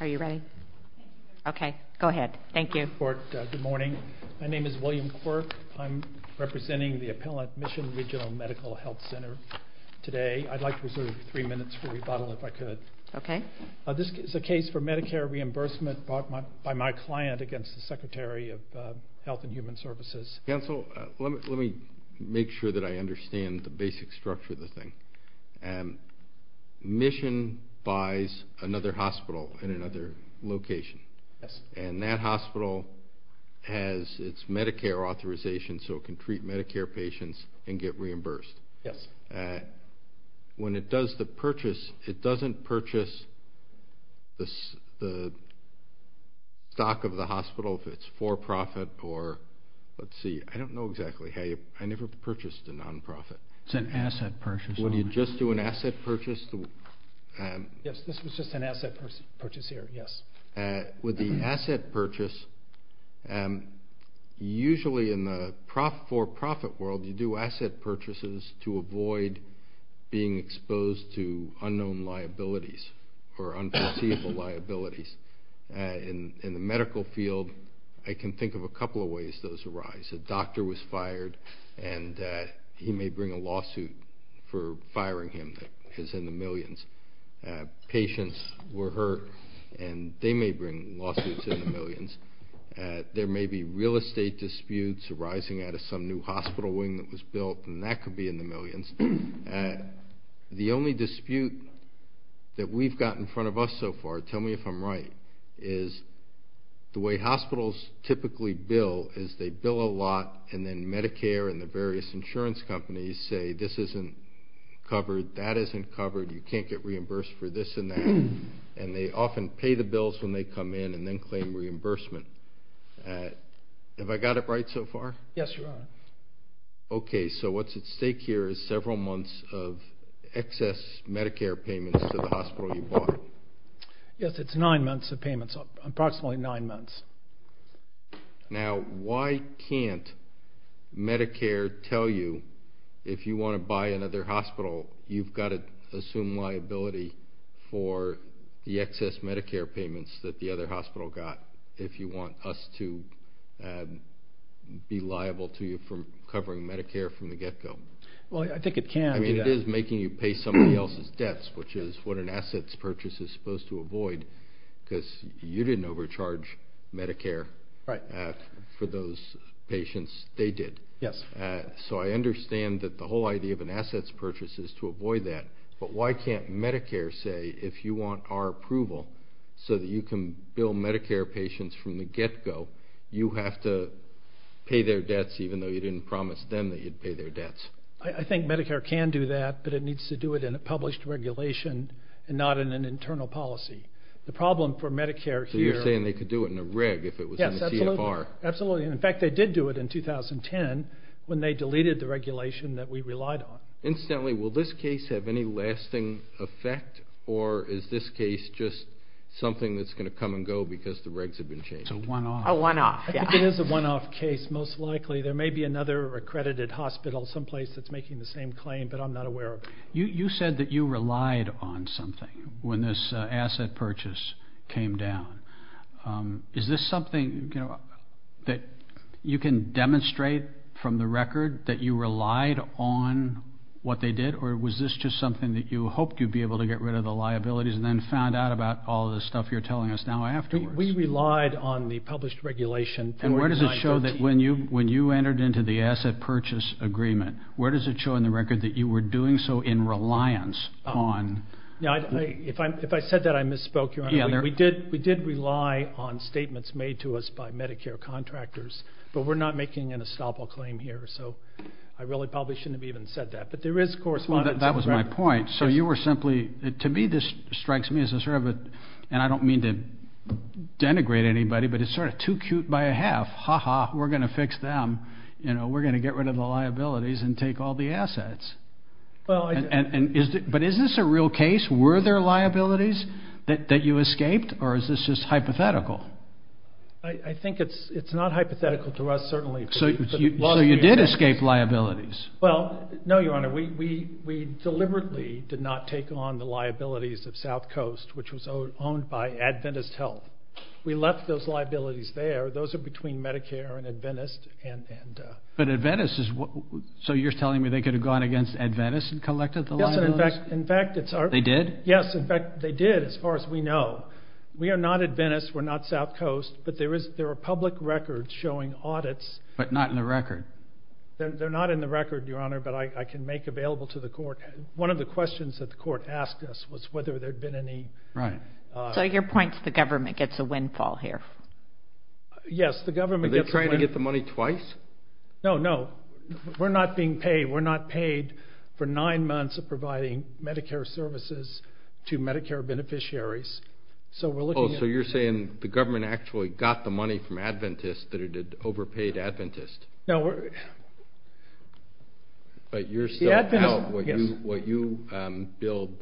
Are you ready? Okay, go ahead. Thank you. Good morning. My name is William Quirk. I'm representing the appellant Mission Regional Medical Health Center today. I'd like to reserve three minutes for rebuttal, if I could. Okay. This is a case for Medicare reimbursement bought by my client against the Secretary of Health and Human Services. Counsel, let me make sure that I understand the basic structure of the thing. Mission buys another hospital in another location. Yes. And that hospital has its Medicare authorization, so it can treat Medicare patients and get reimbursed. Yes. When it does the purchase, it doesn't purchase the stock of the hospital, if it's for-profit or, let's see, I don't know exactly. I never purchased a non-profit. It's an asset purchase. Would you just do an asset purchase? Yes, this was just an asset purchase here, yes. With the asset purchase, usually in the for-profit world, you do asset purchases to avoid being exposed to unknown liabilities or unforeseeable liabilities. In the medical field, I can think of a couple of ways those arise. A doctor was fired, and he may bring a lawsuit for firing him that is in the millions. Patients were hurt, and they may bring lawsuits in the millions. There may be real estate disputes arising out of some new hospital wing that was built, and that could be in the millions. The only dispute that we've got in front of us so far, tell me if I'm right, is the way hospitals typically bill is they bill a lot and then Medicare and the various insurance companies say, this isn't covered, that isn't covered, you can't get reimbursed for this and that, and they often pay the bills when they come in and then claim reimbursement. Have I got it right so far? Yes, you are. Okay, so what's at stake here is several months of excess Medicare payments to the hospital you bought. Yes, it's nine months of payments, approximately nine months. Now, why can't Medicare tell you if you want to buy another hospital, you've got to assume liability for the excess Medicare payments that the other hospital got if you want us to be liable to you for covering Medicare from the get-go? Well, I think it can do that. It is making you pay somebody else's debts, which is what an assets purchase is supposed to avoid, because you didn't overcharge Medicare for those patients, they did. Yes. So I understand that the whole idea of an assets purchase is to avoid that, but why can't Medicare say if you want our approval so that you can bill Medicare patients from the get-go, you have to pay their debts even though you didn't promise them that you'd pay their debts? I think Medicare can do that, but it needs to do it in a published regulation and not in an internal policy. The problem for Medicare here... So you're saying they could do it in a reg if it was in the CFR? Yes, absolutely. In fact, they did do it in 2010 when they deleted the regulation that we relied on. Incidentally, will this case have any lasting effect, or is this case just something that's going to come and go because the regs have been changed? It's a one-off. A one-off, yes. I think it is a one-off case, most likely. There may be another accredited hospital someplace that's making the same claim, but I'm not aware of it. You said that you relied on something when this asset purchase came down. Is this something that you can demonstrate from the record that you relied on what they did, or was this just something that you hoped you'd be able to get rid of the liabilities and then found out about all the stuff you're telling us now afterwards? We relied on the published regulation. And where does it show that when you entered into the asset purchase agreement, where does it show in the record that you were doing so in reliance on? If I said that, I misspoke, Your Honor. We did rely on statements made to us by Medicare contractors, but we're not making an estoppel claim here. So I really probably shouldn't have even said that. But there is correspondence. Well, that was my point. So you were simply to me this strikes me as a sort of a, and I don't mean to denigrate anybody, but it's sort of too cute by a half. Ha-ha, we're going to fix them. We're going to get rid of the liabilities and take all the assets. But isn't this a real case? Were there liabilities that you escaped, or is this just hypothetical? I think it's not hypothetical to us, certainly. So you did escape liabilities. Well, no, Your Honor. We deliberately did not take on the liabilities of South Coast, which was owned by Adventist Health. We left those liabilities there. Those are between Medicare and Adventist. But Adventist is what, so you're telling me they could have gone against Adventist and collected the liabilities? Yes, in fact, it's our. They did? Yes, in fact, they did as far as we know. We are not Adventist. We're not South Coast, but there are public records showing audits. But not in the record. They're not in the record, Your Honor, but I can make available to the court. One of the questions that the court asked us was whether there had been any. Right. So your point is the government gets a windfall here. Yes, the government gets a windfall. Are they trying to get the money twice? No, no. We're not being paid. We're not paid for nine months of providing Medicare services to Medicare beneficiaries. So we're looking at. Oh, so you're saying the government actually got the money from Adventist that it had overpaid Adventist. No. But you're still out what you billed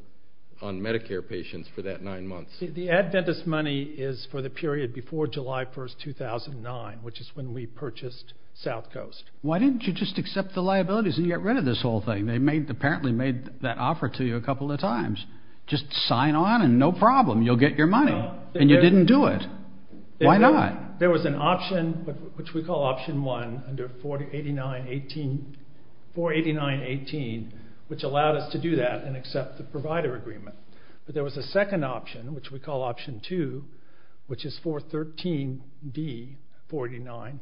on Medicare patients for that nine months. The Adventist money is for the period before July 1st, 2009, which is when we purchased South Coast. Why didn't you just accept the liabilities and get rid of this whole thing? They apparently made that offer to you a couple of times. Just sign on and no problem. You'll get your money. And you didn't do it. Why not? There was an option, which we call Option 1, under 489.18, which allowed us to do that and accept the provider agreement. But there was a second option, which we call Option 2, which is 413.d.49,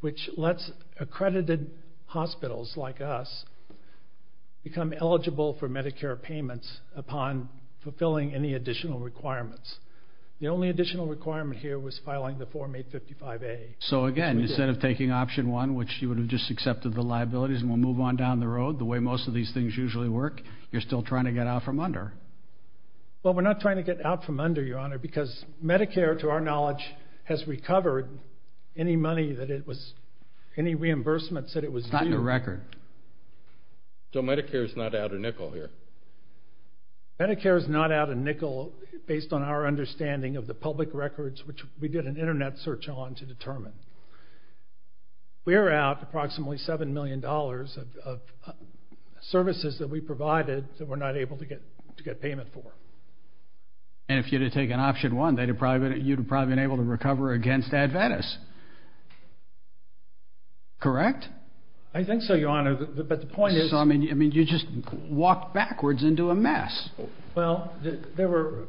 which lets accredited hospitals like us become eligible for Medicare payments upon fulfilling any additional requirements. The only additional requirement here was filing the Form 855A. So, again, instead of taking Option 1, which you would have just accepted the liabilities and we'll move on down the road, the way most of these things usually work, you're still trying to get out from under. Well, we're not trying to get out from under, Your Honor, because Medicare, to our knowledge, has recovered any money that it was – any reimbursements that it was due. It's not in your record. So Medicare is not out of nickel here. Medicare is not out of nickel based on our understanding of the public records, which we did an Internet search on to determine. We're out approximately $7 million of services that we provided that we're not able to get payment for. And if you'd have taken Option 1, you'd have probably been able to recover against Adventus. Correct? I think so, Your Honor, but the point is – I mean, you just walked backwards into a mess. Well, there were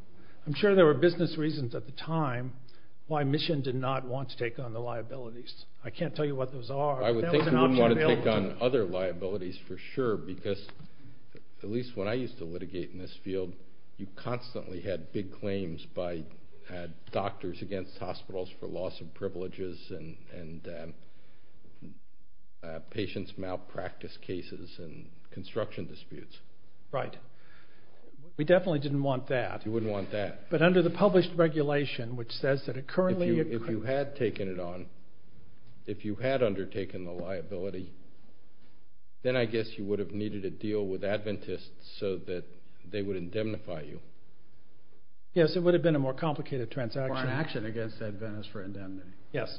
– I'm sure there were business reasons at the time why Mission did not want to take on the liabilities. I can't tell you what those are. I would think we wouldn't want to take on other liabilities for sure, because at least when I used to litigate in this field, you constantly had big claims by doctors against hospitals for loss of privileges and patients' malpractice cases and construction disputes. Right. We definitely didn't want that. You wouldn't want that. But under the published regulation, which says that it currently – If you had taken it on, if you had undertaken the liability, then I guess you would have needed to deal with Adventus so that they would indemnify you. Yes, it would have been a more complicated transaction. Or an action against Adventus for indemnity. Yes.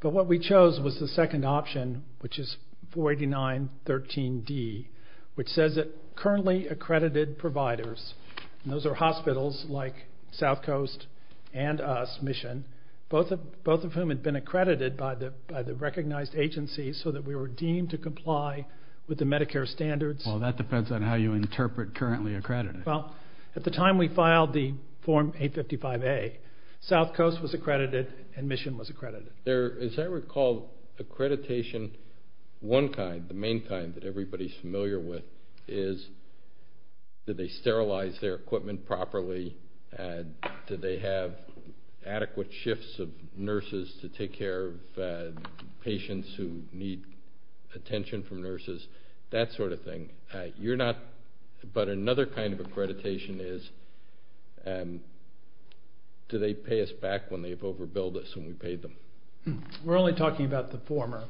But what we chose was the second option, which is 489.13d, which says that currently accredited providers – and those are hospitals like South Coast and us, Mission, both of whom had been accredited by the recognized agency so that we were deemed to comply with the Medicare standards. Well, that depends on how you interpret currently accredited. Well, at the time we filed the Form 855A, South Coast was accredited and Mission was accredited. As I recall, accreditation, one kind, the main kind that everybody is familiar with, is did they sterilize their equipment properly, did they have adequate shifts of nurses to take care of patients who need attention from nurses, that sort of thing. But another kind of accreditation is do they pay us back when they've overbilled us and we paid them. We're only talking about the former.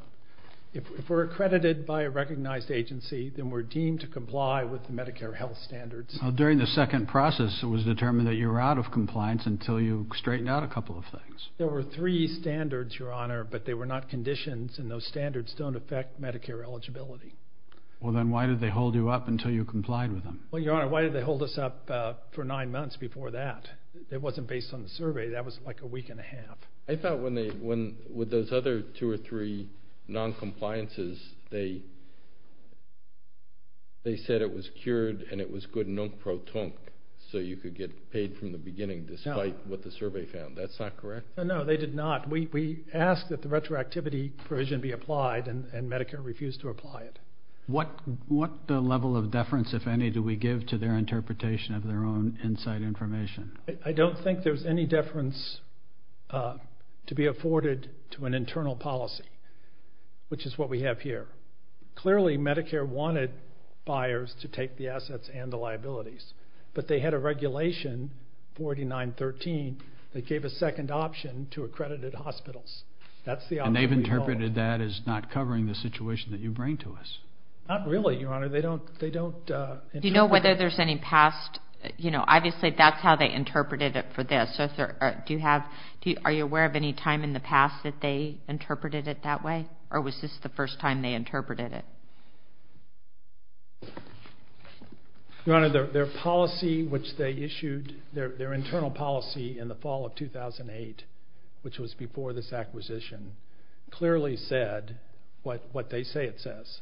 If we're accredited by a recognized agency, then we're deemed to comply with the Medicare health standards. During the second process, it was determined that you were out of compliance until you straightened out a couple of things. There were three standards, Your Honor, but they were not conditions, and those standards don't affect Medicare eligibility. Well, then why did they hold you up until you complied with them? Well, Your Honor, why did they hold us up for nine months before that? It wasn't based on the survey. That was like a week and a half. I thought when those other two or three noncompliances, they said it was cured and it was good non-proton, so you could get paid from the beginning despite what the survey found. That's not correct? No, they did not. We asked that the retroactivity provision be applied, and Medicare refused to apply it. What level of deference, if any, do we give to their interpretation of their own inside information? I don't think there's any deference to be afforded to an internal policy, which is what we have here. Clearly, Medicare wanted buyers to take the assets and the liabilities, but they had a regulation, 4913, that gave a second option to accredited hospitals. And they've interpreted that as not covering the situation that you bring to us? Not really, Your Honor. Do you know whether there's any past? Obviously, that's how they interpreted it for this. Are you aware of any time in the past that they interpreted it that way, or was this the first time they interpreted it? Your Honor, their policy, which they issued, their internal policy in the fall of 2008, which was before this acquisition, clearly said what they say it says.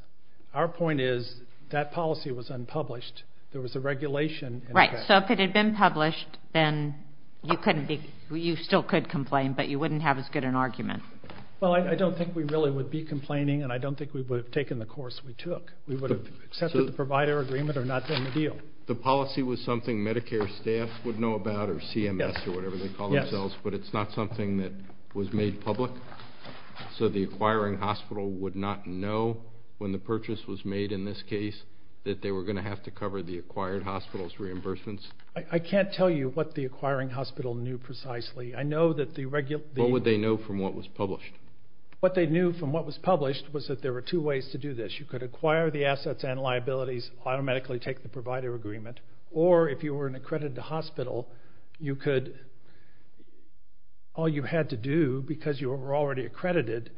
Our point is that policy was unpublished. There was a regulation. Right, so if it had been published, then you still could complain, but you wouldn't have as good an argument. Well, I don't think we really would be complaining, and I don't think we would have taken the course we took. We would have accepted the provider agreement or not done the deal. The policy was something Medicare staff would know about, or CMS or whatever they call themselves, but it's not something that was made public? So the acquiring hospital would not know when the purchase was made in this case that they were going to have to cover the acquired hospital's reimbursements? I can't tell you what the acquiring hospital knew precisely. What would they know from what was published? What they knew from what was published was that there were two ways to do this. You could acquire the assets and liabilities, automatically take the provider agreement, or if you were an accredited hospital, all you had to do because you were already accredited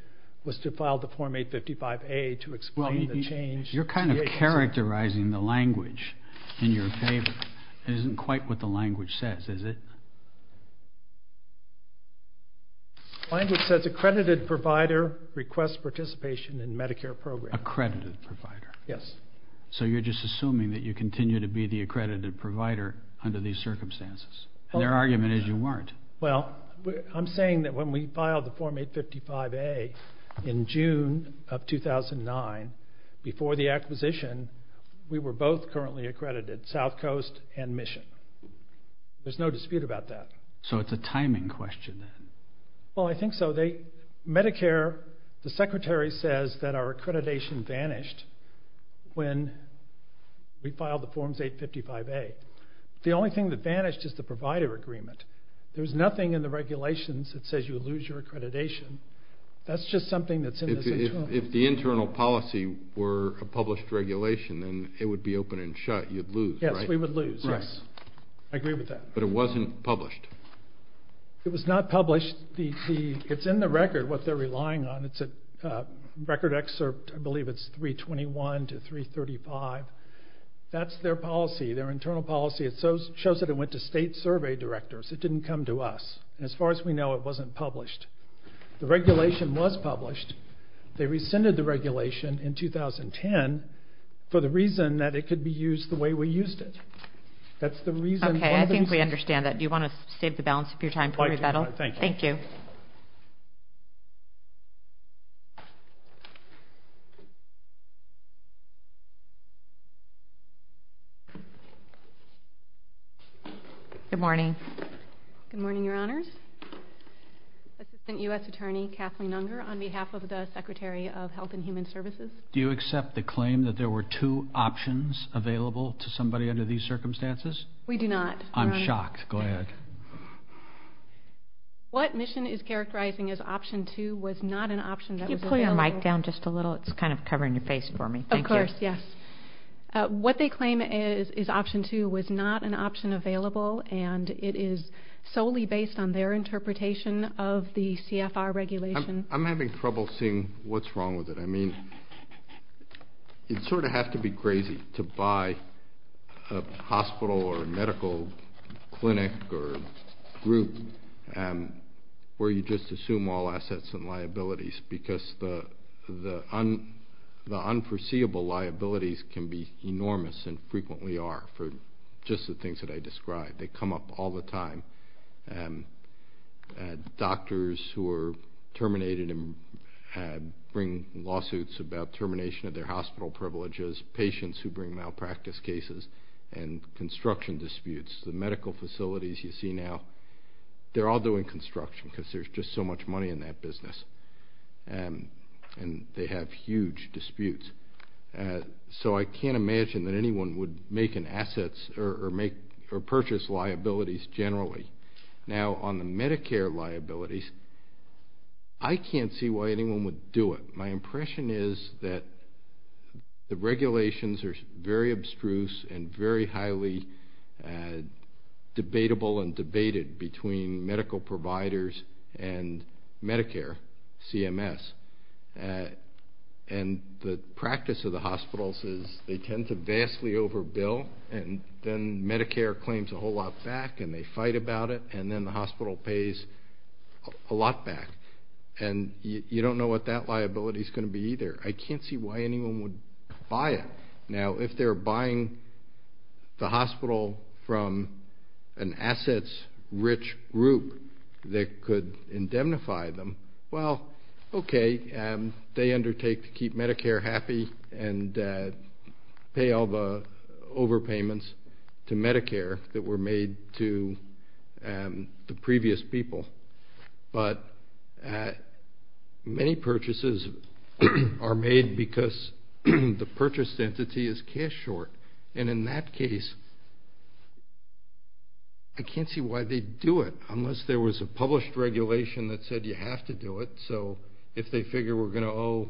was to file the Form 855A to explain the change. You're kind of characterizing the language in your favor. It isn't quite what the language says, is it? The language says accredited provider requests participation in Medicare programs. Accredited provider. Yes. So you're just assuming that you continue to be the accredited provider under these circumstances? Their argument is you weren't. Well, I'm saying that when we filed the Form 855A in June of 2009, before the acquisition, we were both currently accredited, South Coast and Mission. There's no dispute about that. So it's a timing question then? Well, I think so. Medicare, the Secretary says that our accreditation vanished when we filed the Form 855A. The only thing that vanished is the provider agreement. There's nothing in the regulations that says you would lose your accreditation. That's just something that's in this internal policy. If the internal policy were a published regulation, then it would be open and shut. You'd lose, right? Yes, we would lose, yes. I agree with that. But it wasn't published? It was not published. It's in the record what they're relying on. It's a record excerpt. I believe it's 321 to 335. That's their policy, their internal policy. It shows that it went to state survey directors. It didn't come to us. And as far as we know, it wasn't published. The regulation was published. They rescinded the regulation in 2010 for the reason that it could be used the way we used it. That's the reason. Okay, I think we understand that. Do you want to save the balance of your time for rebuttal? Thank you. Thank you. Good morning. Good morning, Your Honors. Assistant U.S. Attorney Kathleen Unger on behalf of the Secretary of Health and Human Services. Do you accept the claim that there were two options available to somebody under these circumstances? We do not. I'm shocked. Go ahead. What mission is characterizing as option two was not an option that was available. Can you put your mic down just a little? It's kind of covering your face for me. Thank you. Of course, yes. What they claim is option two was not an option available, and it is solely based on their interpretation of the CFR regulation. I'm having trouble seeing what's wrong with it. I mean, you sort of have to be crazy to buy a hospital or a medical clinic or group where you just assume all assets and liabilities because the unforeseeable liabilities can be enormous and frequently are for just the things that I described. They come up all the time. Doctors who are terminated bring lawsuits about termination of their hospital privileges, patients who bring malpractice cases, and construction disputes. The medical facilities you see now, they're all doing construction because there's just so much money in that business, and they have huge disputes. So I can't imagine that anyone would make an assets or purchase liabilities generally. Now, on the Medicare liabilities, I can't see why anyone would do it. My impression is that the regulations are very abstruse and very highly debatable and debated between medical providers and Medicare, CMS. And the practice of the hospitals is they tend to vastly overbill, and then Medicare claims a whole lot back and they fight about it, and then the hospital pays a lot back. And you don't know what that liability is going to be either. I can't see why anyone would buy it. Now, if they're buying the hospital from an assets-rich group that could indemnify them, well, okay, they undertake to keep Medicare happy and pay all the overpayments to Medicare that were made to the previous people. But many purchases are made because the purchased entity is cash short. And in that case, I can't see why they'd do it unless there was a published regulation that said you have to do it. So if they figure we're going to owe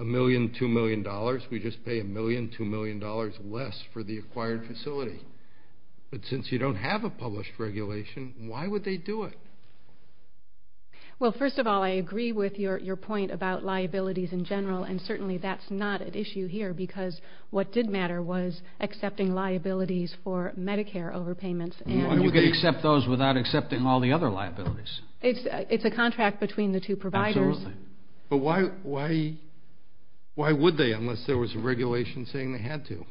$1 million, $2 million, we just pay $1 million, $2 million less for the acquired facility. But since you don't have a published regulation, why would they do it? Well, first of all, I agree with your point about liabilities in general, and certainly that's not an issue here because what did matter was accepting liabilities for Medicare overpayments. You could accept those without accepting all the other liabilities. It's a contract between the two providers. Absolutely. But why would they unless there was a regulation saying they had to?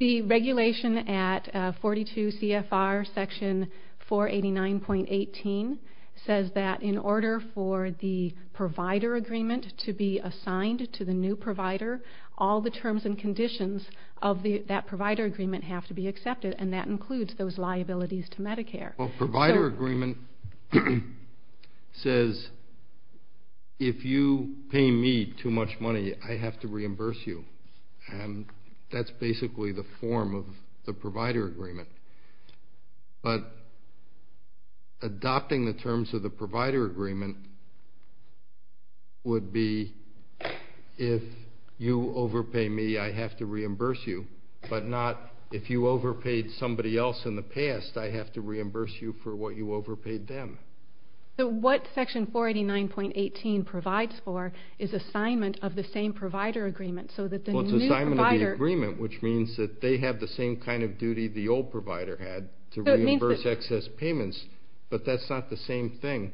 The regulation at 42 CFR Section 489.18 says that in order for the provider agreement to be assigned to the new provider, all the terms and conditions of that provider agreement have to be accepted, and that includes those liabilities to Medicare. Well, provider agreement says if you pay me too much money, I have to reimburse you, and that's basically the form of the provider agreement. But adopting the terms of the provider agreement would be if you overpay me, I have to reimburse you, but not if you overpaid somebody else in the past, I have to reimburse you for what you overpaid them. So what Section 489.18 provides for is assignment of the same provider agreement so that the new provider. Well, it's assignment of the agreement, which means that they have the same kind of duty the old provider had to reimburse excess payments, but that's not the same thing.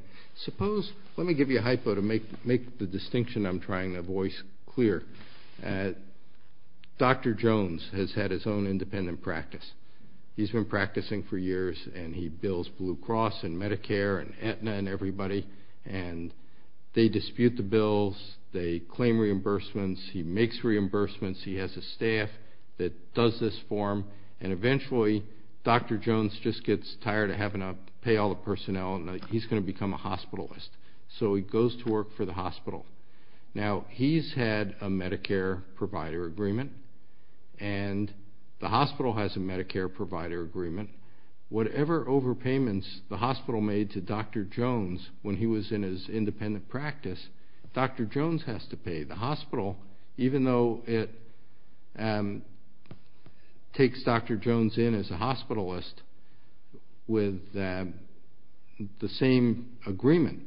Let me give you a hypo to make the distinction I'm trying to voice clear. Dr. Jones has had his own independent practice. He's been practicing for years, and he bills Blue Cross and Medicare and Aetna and everybody, and they dispute the bills, they claim reimbursements, he makes reimbursements, he has a staff that does this for him, and eventually Dr. Jones just gets tired of having to pay all the personnel and he's going to become a hospitalist. So he goes to work for the hospital. Now, he's had a Medicare provider agreement, and the hospital has a Medicare provider agreement. Whatever overpayments the hospital made to Dr. Jones when he was in his independent practice, Dr. Jones has to pay. The hospital, even though it takes Dr. Jones in as a hospitalist with the same agreement,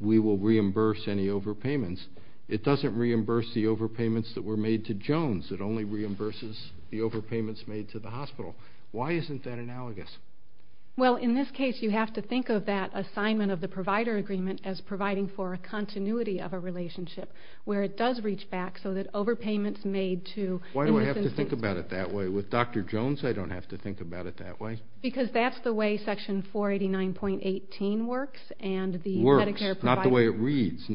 we will reimburse any overpayments, it doesn't reimburse the overpayments that were made to Jones. It only reimburses the overpayments made to the hospital. Why isn't that analogous? Well, in this case, you have to think of that assignment of the provider agreement as providing for a continuity of a relationship where it does reach back so that overpayments made to Why do I have to think about it that way? With Dr. Jones, I don't have to think about it that way. Because that's the way Section 489.18 works. Works, not the way it reads.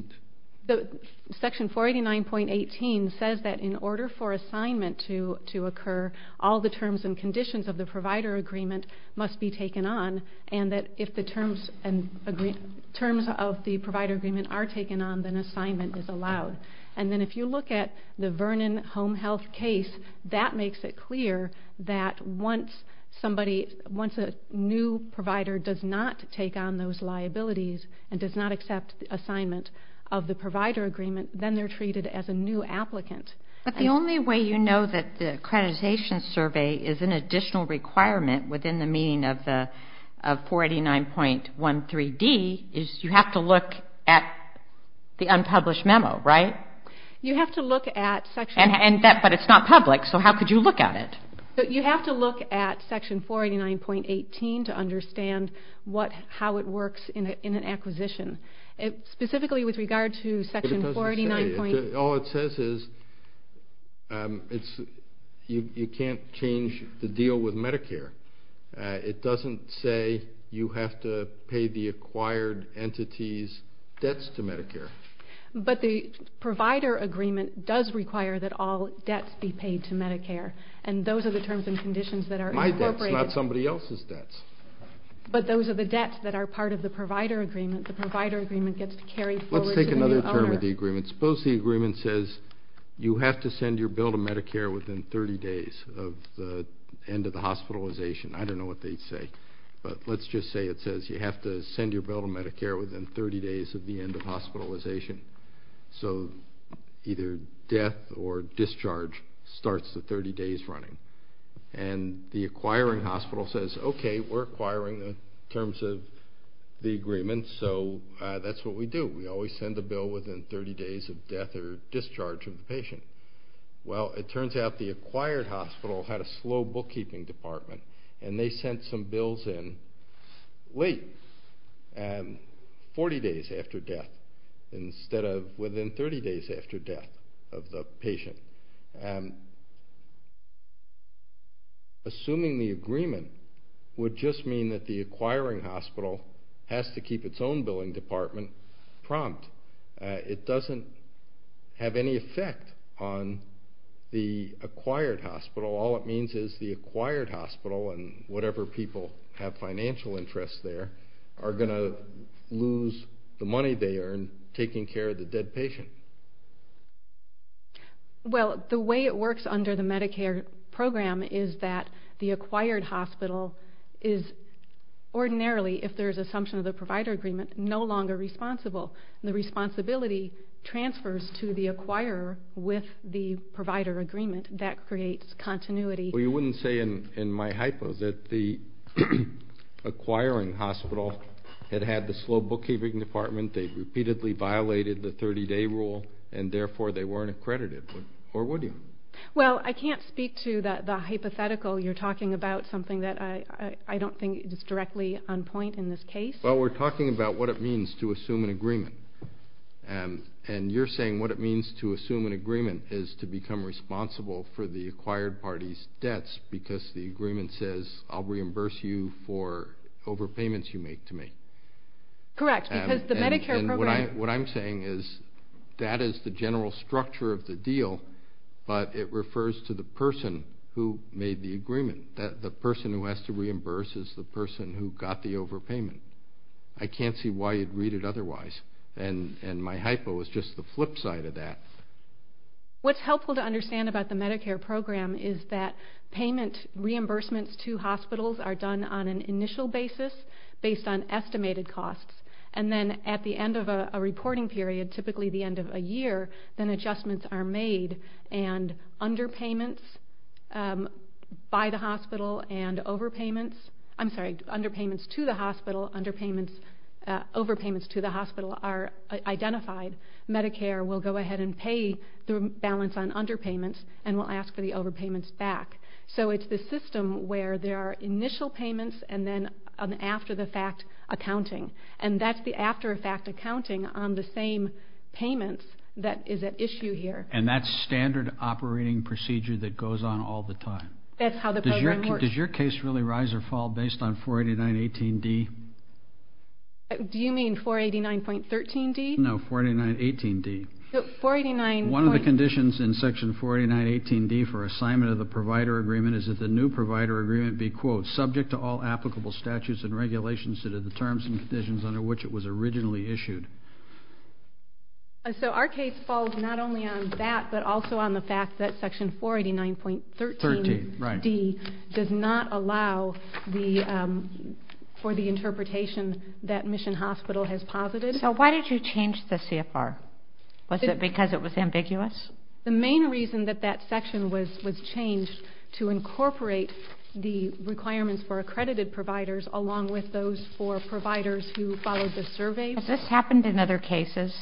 Section 489.18 says that in order for assignment to occur, all the terms and conditions of the provider agreement must be taken on, and that if the terms of the provider agreement are taken on, then assignment is allowed. And then if you look at the Vernon Home Health case, that makes it clear that once a new provider does not take on those liabilities and does not accept the assignment of the provider agreement, then they're treated as a new applicant. But the only way you know that the accreditation survey is an additional requirement within the meaning of 489.13d is you have to look at the unpublished memo, right? You have to look at Section 489.18. But it's not public, so how could you look at it? You have to look at Section 489.18 to understand how it works in an acquisition. Specifically with regard to Section 489.18. All it says is you can't change the deal with Medicare. It doesn't say you have to pay the acquired entity's debts to Medicare. But the provider agreement does require that all debts be paid to Medicare, and those are the terms and conditions that are incorporated. My debts, not somebody else's debts. But those are the debts that are part of the provider agreement. The provider agreement gets carried forward to the owner. Let's take another term of the agreement. Suppose the agreement says you have to send your bill to Medicare within 30 days of the end of the hospitalization. I don't know what they'd say, but let's just say it says you have to send your bill to Medicare within 30 days of the end of hospitalization. So either death or discharge starts the 30 days running. And the acquiring hospital says, okay, we're acquiring the terms of the agreement, and so that's what we do. We always send the bill within 30 days of death or discharge of the patient. Well, it turns out the acquired hospital had a slow bookkeeping department, and they sent some bills in late, 40 days after death, instead of within 30 days after death of the patient. Assuming the agreement would just mean that the acquiring hospital has to keep its own billing department prompt. It doesn't have any effect on the acquired hospital. All it means is the acquired hospital and whatever people have financial interests there are going to lose the money they earn taking care of the dead patient. Well, the way it works under the Medicare program is that the acquired hospital is ordinarily, if there's assumption of the provider agreement, no longer responsible. The responsibility transfers to the acquirer with the provider agreement. That creates continuity. Well, you wouldn't say in my hypo that the acquiring hospital had had the slow bookkeeping department, they repeatedly violated the 30-day rule, and therefore they weren't accredited, or would you? Well, I can't speak to the hypothetical. You're talking about something that I don't think is directly on point in this case. Well, we're talking about what it means to assume an agreement. And you're saying what it means to assume an agreement is to become responsible for the acquired party's debts because the agreement says, I'll reimburse you for overpayments you make to me. Correct, because the Medicare program... And what I'm saying is that is the general structure of the deal, but it refers to the person who made the agreement. The person who has to reimburse is the person who got the overpayment. I can't see why you'd read it otherwise. And my hypo is just the flip side of that. What's helpful to understand about the Medicare program is that payment reimbursements to hospitals are done on an initial basis based on estimated costs. And then at the end of a reporting period, typically the end of a year, then adjustments are made and underpayments by the hospital and overpayments to the hospital are identified. Medicare will go ahead and pay the balance on underpayments and will ask for the overpayments back. So it's the system where there are initial payments and then an after-the-fact accounting. And that's the after-the-fact accounting on the same payments that is at issue here. And that's standard operating procedure that goes on all the time. That's how the program works. Does your case really rise or fall based on 489.18d? Do you mean 489.13d? No, 489.18d. One of the conditions in section 489.18d for assignment of the provider agreement is that the new provider agreement be, quote, subject to all applicable statutes and regulations that are the terms and conditions under which it was originally issued. So our case falls not only on that, but also on the fact that section 489.13d does not allow for the interpretation that Mission Hospital has posited. So why did you change the CFR? Was it because it was ambiguous? The main reason that that section was changed to incorporate the requirements for accredited providers along with those for providers who followed the survey. Has this happened in other cases?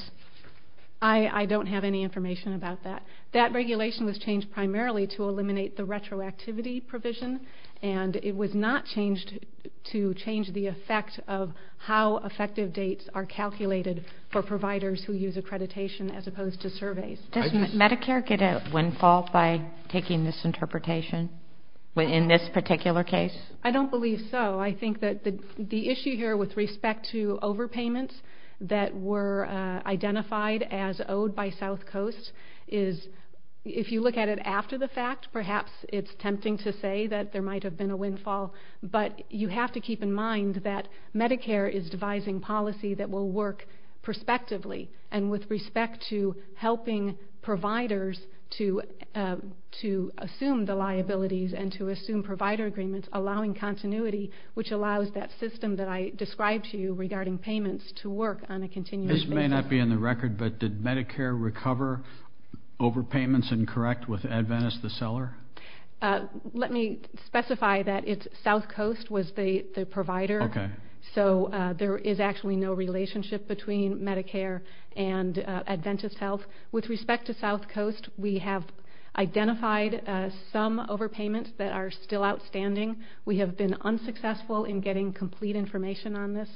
I don't have any information about that. That regulation was changed primarily to eliminate the retroactivity provision, and it was not changed to change the effect of how effective dates are calculated for providers who use accreditation as opposed to surveys. Does Medicare get a windfall by taking this interpretation in this particular case? I don't believe so. I think that the issue here with respect to overpayments that were identified as owed by South Coast is, if you look at it after the fact, perhaps it's tempting to say that there might have been a windfall, but you have to keep in mind that Medicare is devising policy that will work prospectively and with respect to helping providers to assume the liabilities and to assume provider agreements, allowing continuity, which allows that system that I described to you regarding payments to work on a continuous basis. This may not be in the record, but did Medicare recover overpayments and correct with Adventist the seller? Let me specify that South Coast was the provider. So there is actually no relationship between Medicare and Adventist Health. With respect to South Coast, we have identified some overpayments that are still outstanding. We have been unsuccessful in getting complete information on this,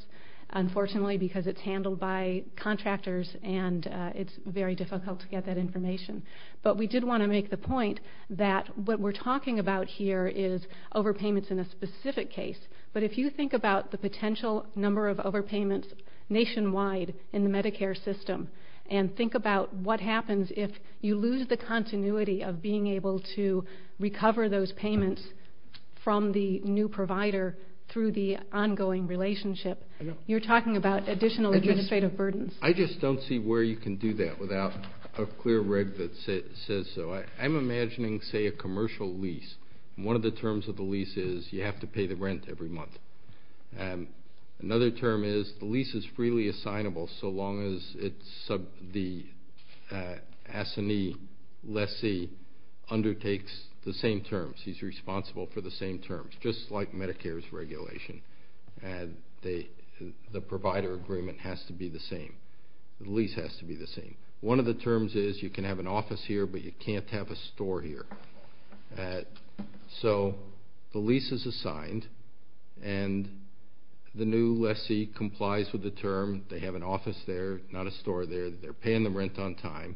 unfortunately, because it's handled by contractors and it's very difficult to get that information. But we did want to make the point that what we're talking about here is overpayments in a specific case. But if you think about the potential number of overpayments nationwide in the Medicare system and think about what happens if you lose the continuity of being able to recover those payments from the new provider through the ongoing relationship, you're talking about additional administrative burdens. I just don't see where you can do that without a clear reg that says so. I'm imagining, say, a commercial lease. One of the terms of the lease is you have to pay the rent every month. Another term is the lease is freely assignable so long as the assignee, lessee, undertakes the same terms. He's responsible for the same terms, just like Medicare's regulation. The provider agreement has to be the same. The lease has to be the same. One of the terms is you can have an office here, but you can't have a store here. So the lease is assigned, and the new lessee complies with the term. They have an office there, not a store there. They're paying the rent on time.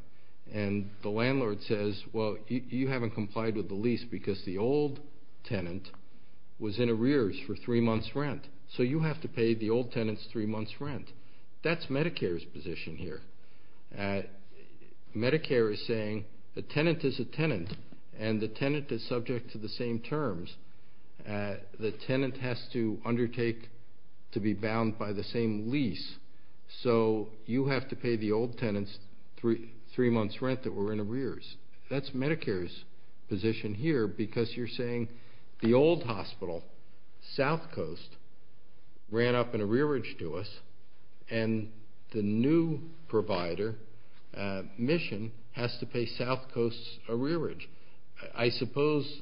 And the landlord says, well, you haven't complied with the lease because the old tenant was in arrears for three months' rent, that's Medicare's position here. Medicare is saying the tenant is a tenant, and the tenant is subject to the same terms. The tenant has to undertake to be bound by the same lease, so you have to pay the old tenant three months' rent that were in arrears. That's Medicare's position here because you're saying the old hospital, South Coast, ran up an arrearage to us, and the new provider, Mission, has to pay South Coast's arrearage. I suppose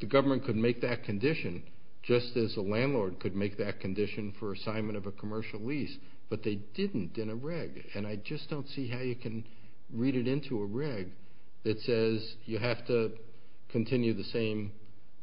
the government could make that condition, just as a landlord could make that condition for assignment of a commercial lease, but they didn't in a reg, and I just don't see how you can read it into a reg that says you have to continue the same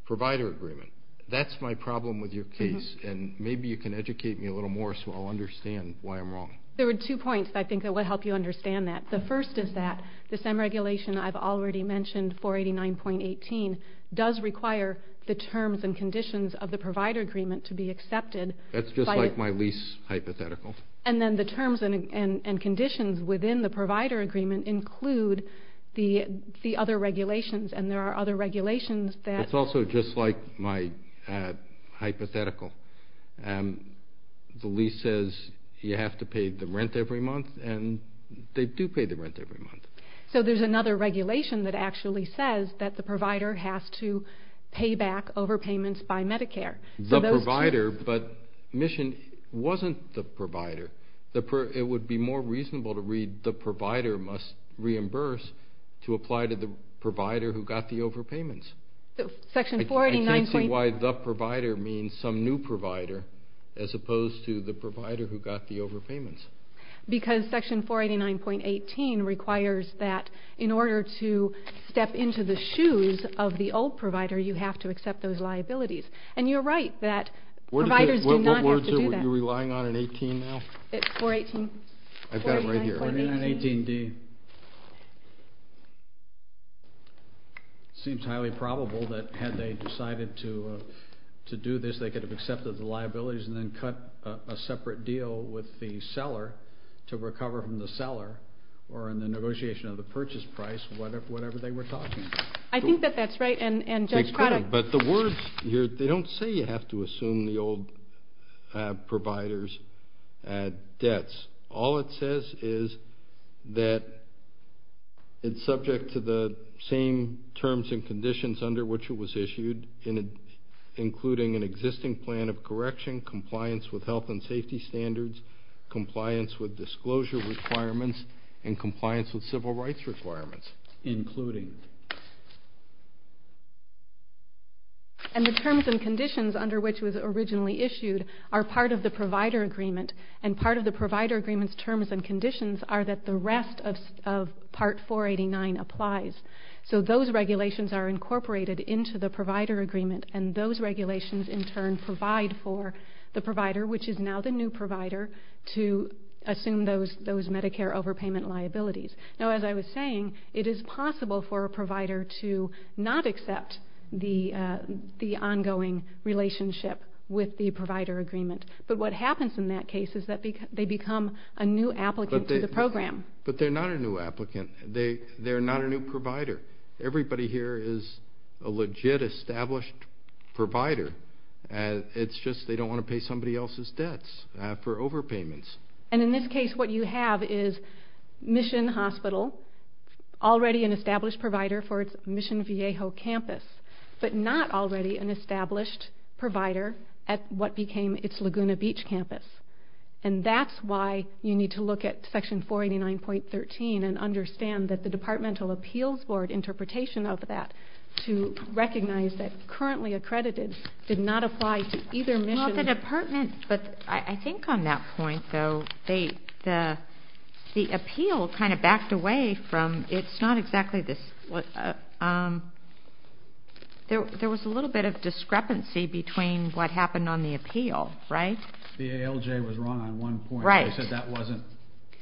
provider agreement. That's my problem with your case, and maybe you can educate me a little more so I'll understand why I'm wrong. There are two points I think that will help you understand that. The first is that the same regulation I've already mentioned, 489.18, does require the terms and conditions of the provider agreement to be accepted. That's just like my lease hypothetical. And then the terms and conditions within the provider agreement include the other regulations, and there are other regulations that- It's also just like my hypothetical. The lease says you have to pay the rent every month, and they do pay the rent every month. So there's another regulation that actually says that the provider has to pay back overpayments by Medicare. The provider, but Mission wasn't the provider. It would be more reasonable to read the provider must reimburse to apply to the provider who got the overpayments. I can't see why the provider means some new provider as opposed to the provider who got the overpayments. Because section 489.18 requires that in order to step into the shoes of the old provider, you have to accept those liabilities. And you're right that providers do not have to do that. What words are you relying on in 18 now? It's 418. I've got it right here. 489.18D. It seems highly probable that had they decided to do this, they could have accepted the liabilities and then cut a separate deal with the seller to recover from the seller or in the negotiation of the purchase price, whatever they were talking about. I think that that's right. But the words here, they don't say you have to assume the old provider's debts. All it says is that it's subject to the same terms and conditions under which it was issued, including an existing plan of correction, compliance with health and safety standards, compliance with disclosure requirements, and compliance with civil rights requirements. Including. And the terms and conditions under which it was originally issued are part of the provider agreement, and part of the provider agreement's terms and conditions are that the rest of part 489 applies. So those regulations are incorporated into the provider agreement, and those regulations in turn provide for the provider, which is now the new provider, to assume those Medicare overpayment liabilities. Now, as I was saying, it is possible for a provider to not accept the ongoing relationship with the provider agreement. But what happens in that case is that they become a new applicant to the program. But they're not a new applicant. They're not a new provider. Everybody here is a legit, established provider. It's just they don't want to pay somebody else's debts for overpayments. And in this case, what you have is Mission Hospital, already an established provider for its Mission Viejo campus, but not already an established provider at what became its Laguna Beach campus. And that's why you need to look at Section 489.13 and understand that the Departmental Appeals Board interpretation of that to recognize that currently accredited did not apply to either mission. Well, the Department, but I think on that point, though, the appeal kind of backed away from it's not exactly this. There was a little bit of discrepancy between what happened on the appeal, right? The ALJ was wrong on one point. They said that wasn't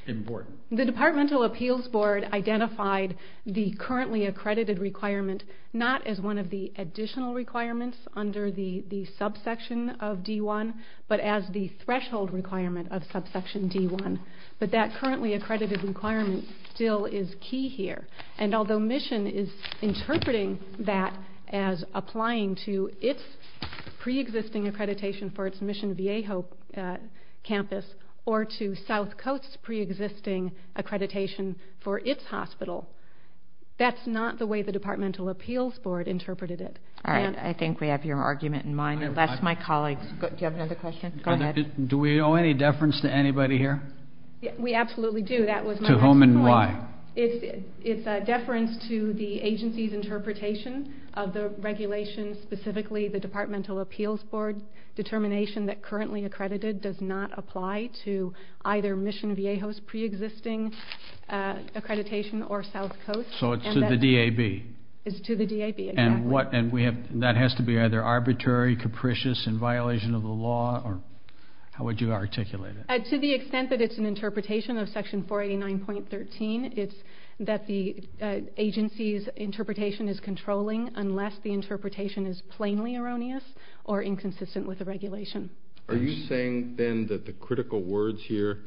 important. The Departmental Appeals Board identified the currently accredited requirement not as one of the additional requirements under the subsection of D1, but as the threshold requirement of subsection D1. But that currently accredited requirement still is key here. And although Mission is interpreting that as applying to its preexisting accreditation for its Mission Viejo campus or to South Coast's preexisting accreditation for its hospital, that's not the way the Departmental Appeals Board interpreted it. All right. I think we have your argument in mind, unless my colleagues. Do you have another question? Go ahead. Do we owe any deference to anybody here? We absolutely do. That was my next point. To whom and why? It's a deference to the agency's interpretation of the regulation, specifically the Departmental Appeals Board determination that currently accredited does not apply to either Mission Viejo's preexisting accreditation or South Coast. So it's to the DAB. It's to the DAB, exactly. And that has to be either arbitrary, capricious, in violation of the law, or how would you articulate it? To the extent that it's an interpretation of Section 489.13, it's that the agency's interpretation is controlling unless the interpretation is plainly erroneous or inconsistent with the regulation. Are you saying then that the critical words here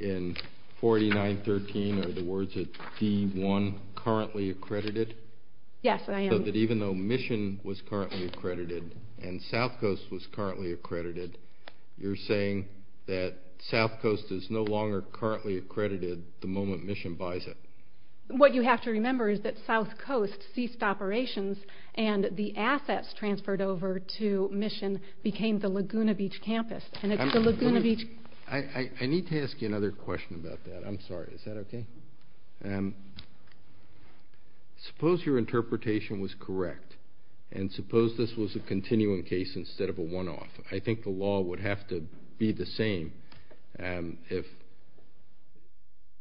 in 489.13 are the words of D1, currently accredited? Yes, I am. So that even though Mission was currently accredited and South Coast was currently accredited, you're saying that South Coast is no longer currently accredited the moment Mission buys it? What you have to remember is that South Coast ceased operations and the assets transferred over to Mission became the Laguna Beach campus. I need to ask you another question about that. I'm sorry. Is that okay? Suppose your interpretation was correct, and suppose this was a continuing case instead of a one-off. I think the law would have to be the same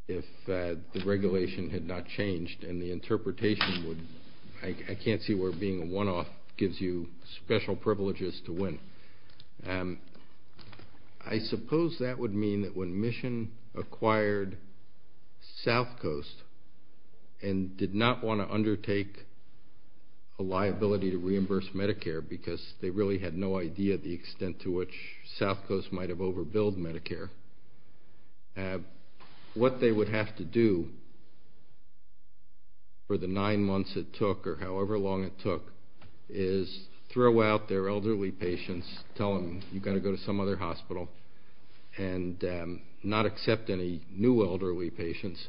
if the regulation had not changed and the interpretation would, I can't see where being a one-off gives you special privileges to win. I suppose that would mean that when Mission acquired South Coast and did not want to undertake a liability to reimburse Medicare because they really had no idea the extent to which South Coast might have overbilled Medicare, what they would have to do for the nine months it took or however long it took is throw out their elderly patients, tell them you've got to go to some other hospital and not accept any new elderly patients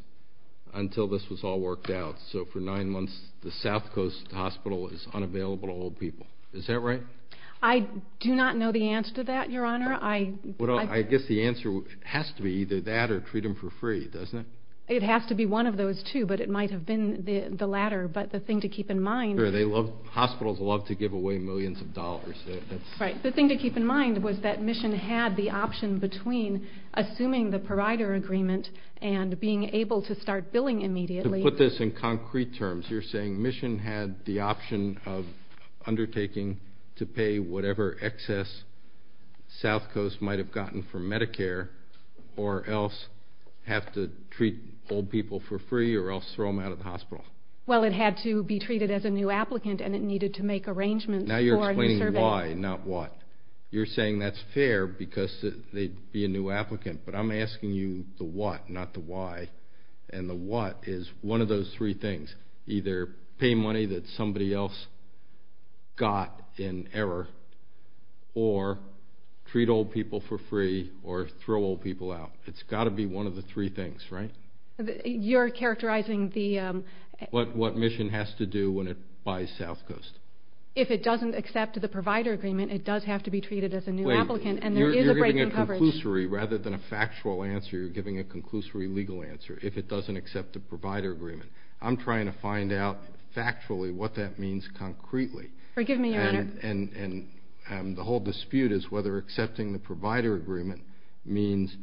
until this was all worked out. So for nine months the South Coast hospital is unavailable to old people. Is that right? I do not know the answer to that, Your Honor. I guess the answer has to be either that or treat them for free, doesn't it? It has to be one of those two, but it might have been the latter. But the thing to keep in mind is hospitals love to give away millions of dollars. The thing to keep in mind was that Mission had the option between assuming the provider agreement and being able to start billing immediately. To put this in concrete terms, you're saying Mission had the option of undertaking to pay whatever excess South Coast might have gotten from Medicare or else have to treat old people for free or else throw them out of the hospital. Well, it had to be treated as a new applicant, and it needed to make arrangements for a new survey. Now you're explaining why, not what. You're saying that's fair because they'd be a new applicant, but I'm asking you the what, not the why. And the what is one of those three things, either pay money that somebody else got in error or treat old people for free or throw old people out. It's got to be one of the three things, right? You're characterizing the... What Mission has to do when it buys South Coast. If it doesn't accept the provider agreement, it does have to be treated as a new applicant, and there is a break in coverage. You're giving a conclusory rather than a factual answer. You're giving a conclusory legal answer if it doesn't accept the provider agreement. I'm trying to find out factually what that means concretely. Forgive me, Your Honor. And the whole dispute is whether accepting the provider agreement means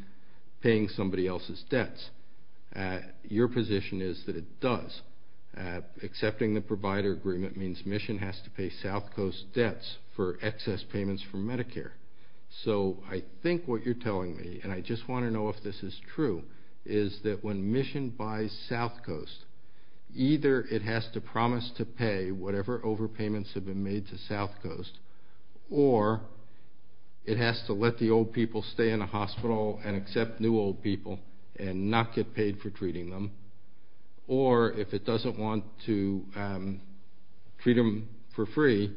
paying somebody else's debts. Your position is that it does. Accepting the provider agreement means Mission has to pay South Coast debts for excess payments from Medicare. So I think what you're telling me, and I just want to know if this is true, is that when Mission buys South Coast, either it has to promise to pay whatever overpayments have been made to South Coast or it has to let the old people stay in the hospital and accept new old people and not get paid for treating them, or if it doesn't want to treat them for free,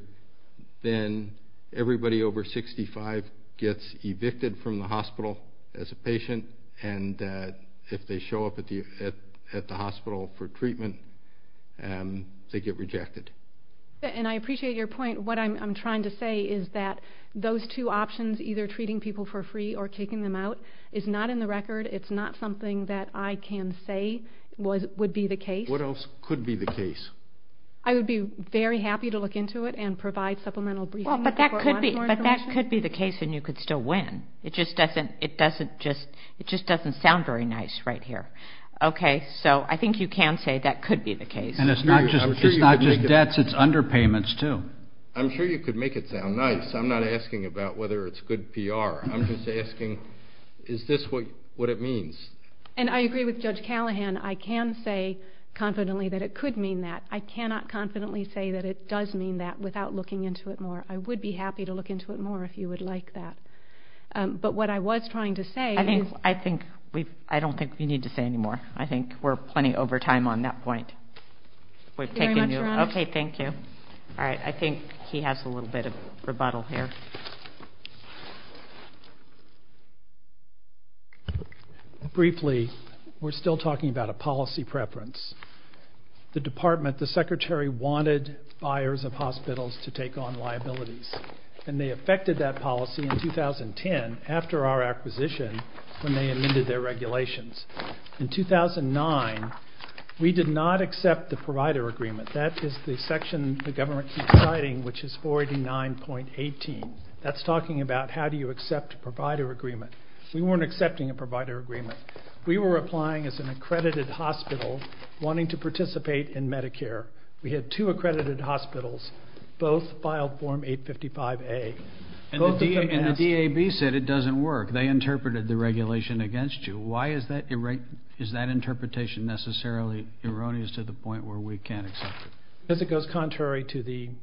then everybody over 65 gets evicted from the hospital as a patient, and if they show up at the hospital for treatment, they get rejected. And I appreciate your point. What I'm trying to say is that those two options, either treating people for free or kicking them out, is not in the record. It's not something that I can say would be the case. What else could be the case? I would be very happy to look into it and provide supplemental briefing. But that could be the case, and you could still win. It just doesn't sound very nice right here. Okay, so I think you can say that could be the case. And it's not just debts. It's underpayments too. I'm sure you could make it sound nice. I'm not asking about whether it's good PR. I'm just asking, is this what it means? And I agree with Judge Callahan. I can say confidently that it could mean that. I cannot confidently say that it does mean that without looking into it more. I would be happy to look into it more if you would like that. But what I was trying to say is. I don't think we need to say any more. I think we're plenty over time on that point. Thank you very much, Your Honor. Okay, thank you. All right, I think he has a little bit of rebuttal here. Briefly, we're still talking about a policy preference. The Department, the Secretary wanted buyers of hospitals to take on liabilities. And they affected that policy in 2010 after our acquisition when they amended their regulations. In 2009, we did not accept the provider agreement. That is the section the government keeps citing, which is 489.18. That's talking about how do you accept a provider agreement. We weren't accepting a provider agreement. We were applying as an accredited hospital wanting to participate in Medicare. We had two accredited hospitals. Both filed Form 855A. And the DAB said it doesn't work. They interpreted the regulation against you. Why is that interpretation necessarily erroneous to the point where we can't accept it?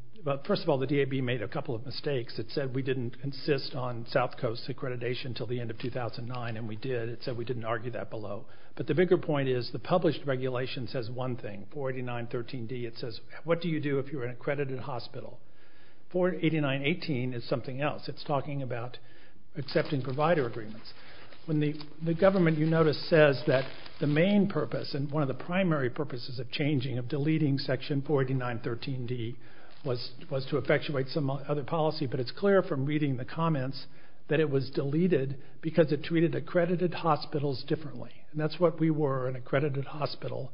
First of all, the DAB made a couple of mistakes. It said we didn't insist on South Coast accreditation until the end of 2009, and we did. It said we didn't argue that below. But the bigger point is the published regulation says one thing, 489.13d. It says what do you do if you're an accredited hospital. 489.18 is something else. It's talking about accepting provider agreements. The government, you notice, says that the main purpose and one of the primary purposes of changing, of deleting section 489.13d, was to effectuate some other policy. But it's clear from reading the comments that it was deleted because it treated accredited hospitals differently. And that's what we were, an accredited hospital.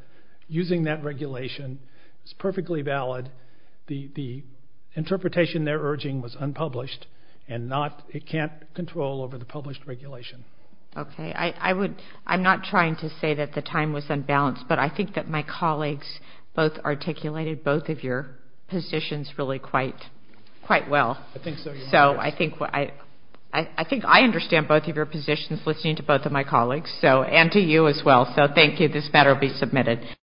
Using that regulation is perfectly valid. The interpretation they're urging was unpublished, and it can't control over the published regulation. Okay. I'm not trying to say that the time was unbalanced, but I think that my colleagues both articulated both of your positions really quite well. I think so. So I think I understand both of your positions, listening to both of my colleagues, and to you as well, so thank you. This matter will be submitted.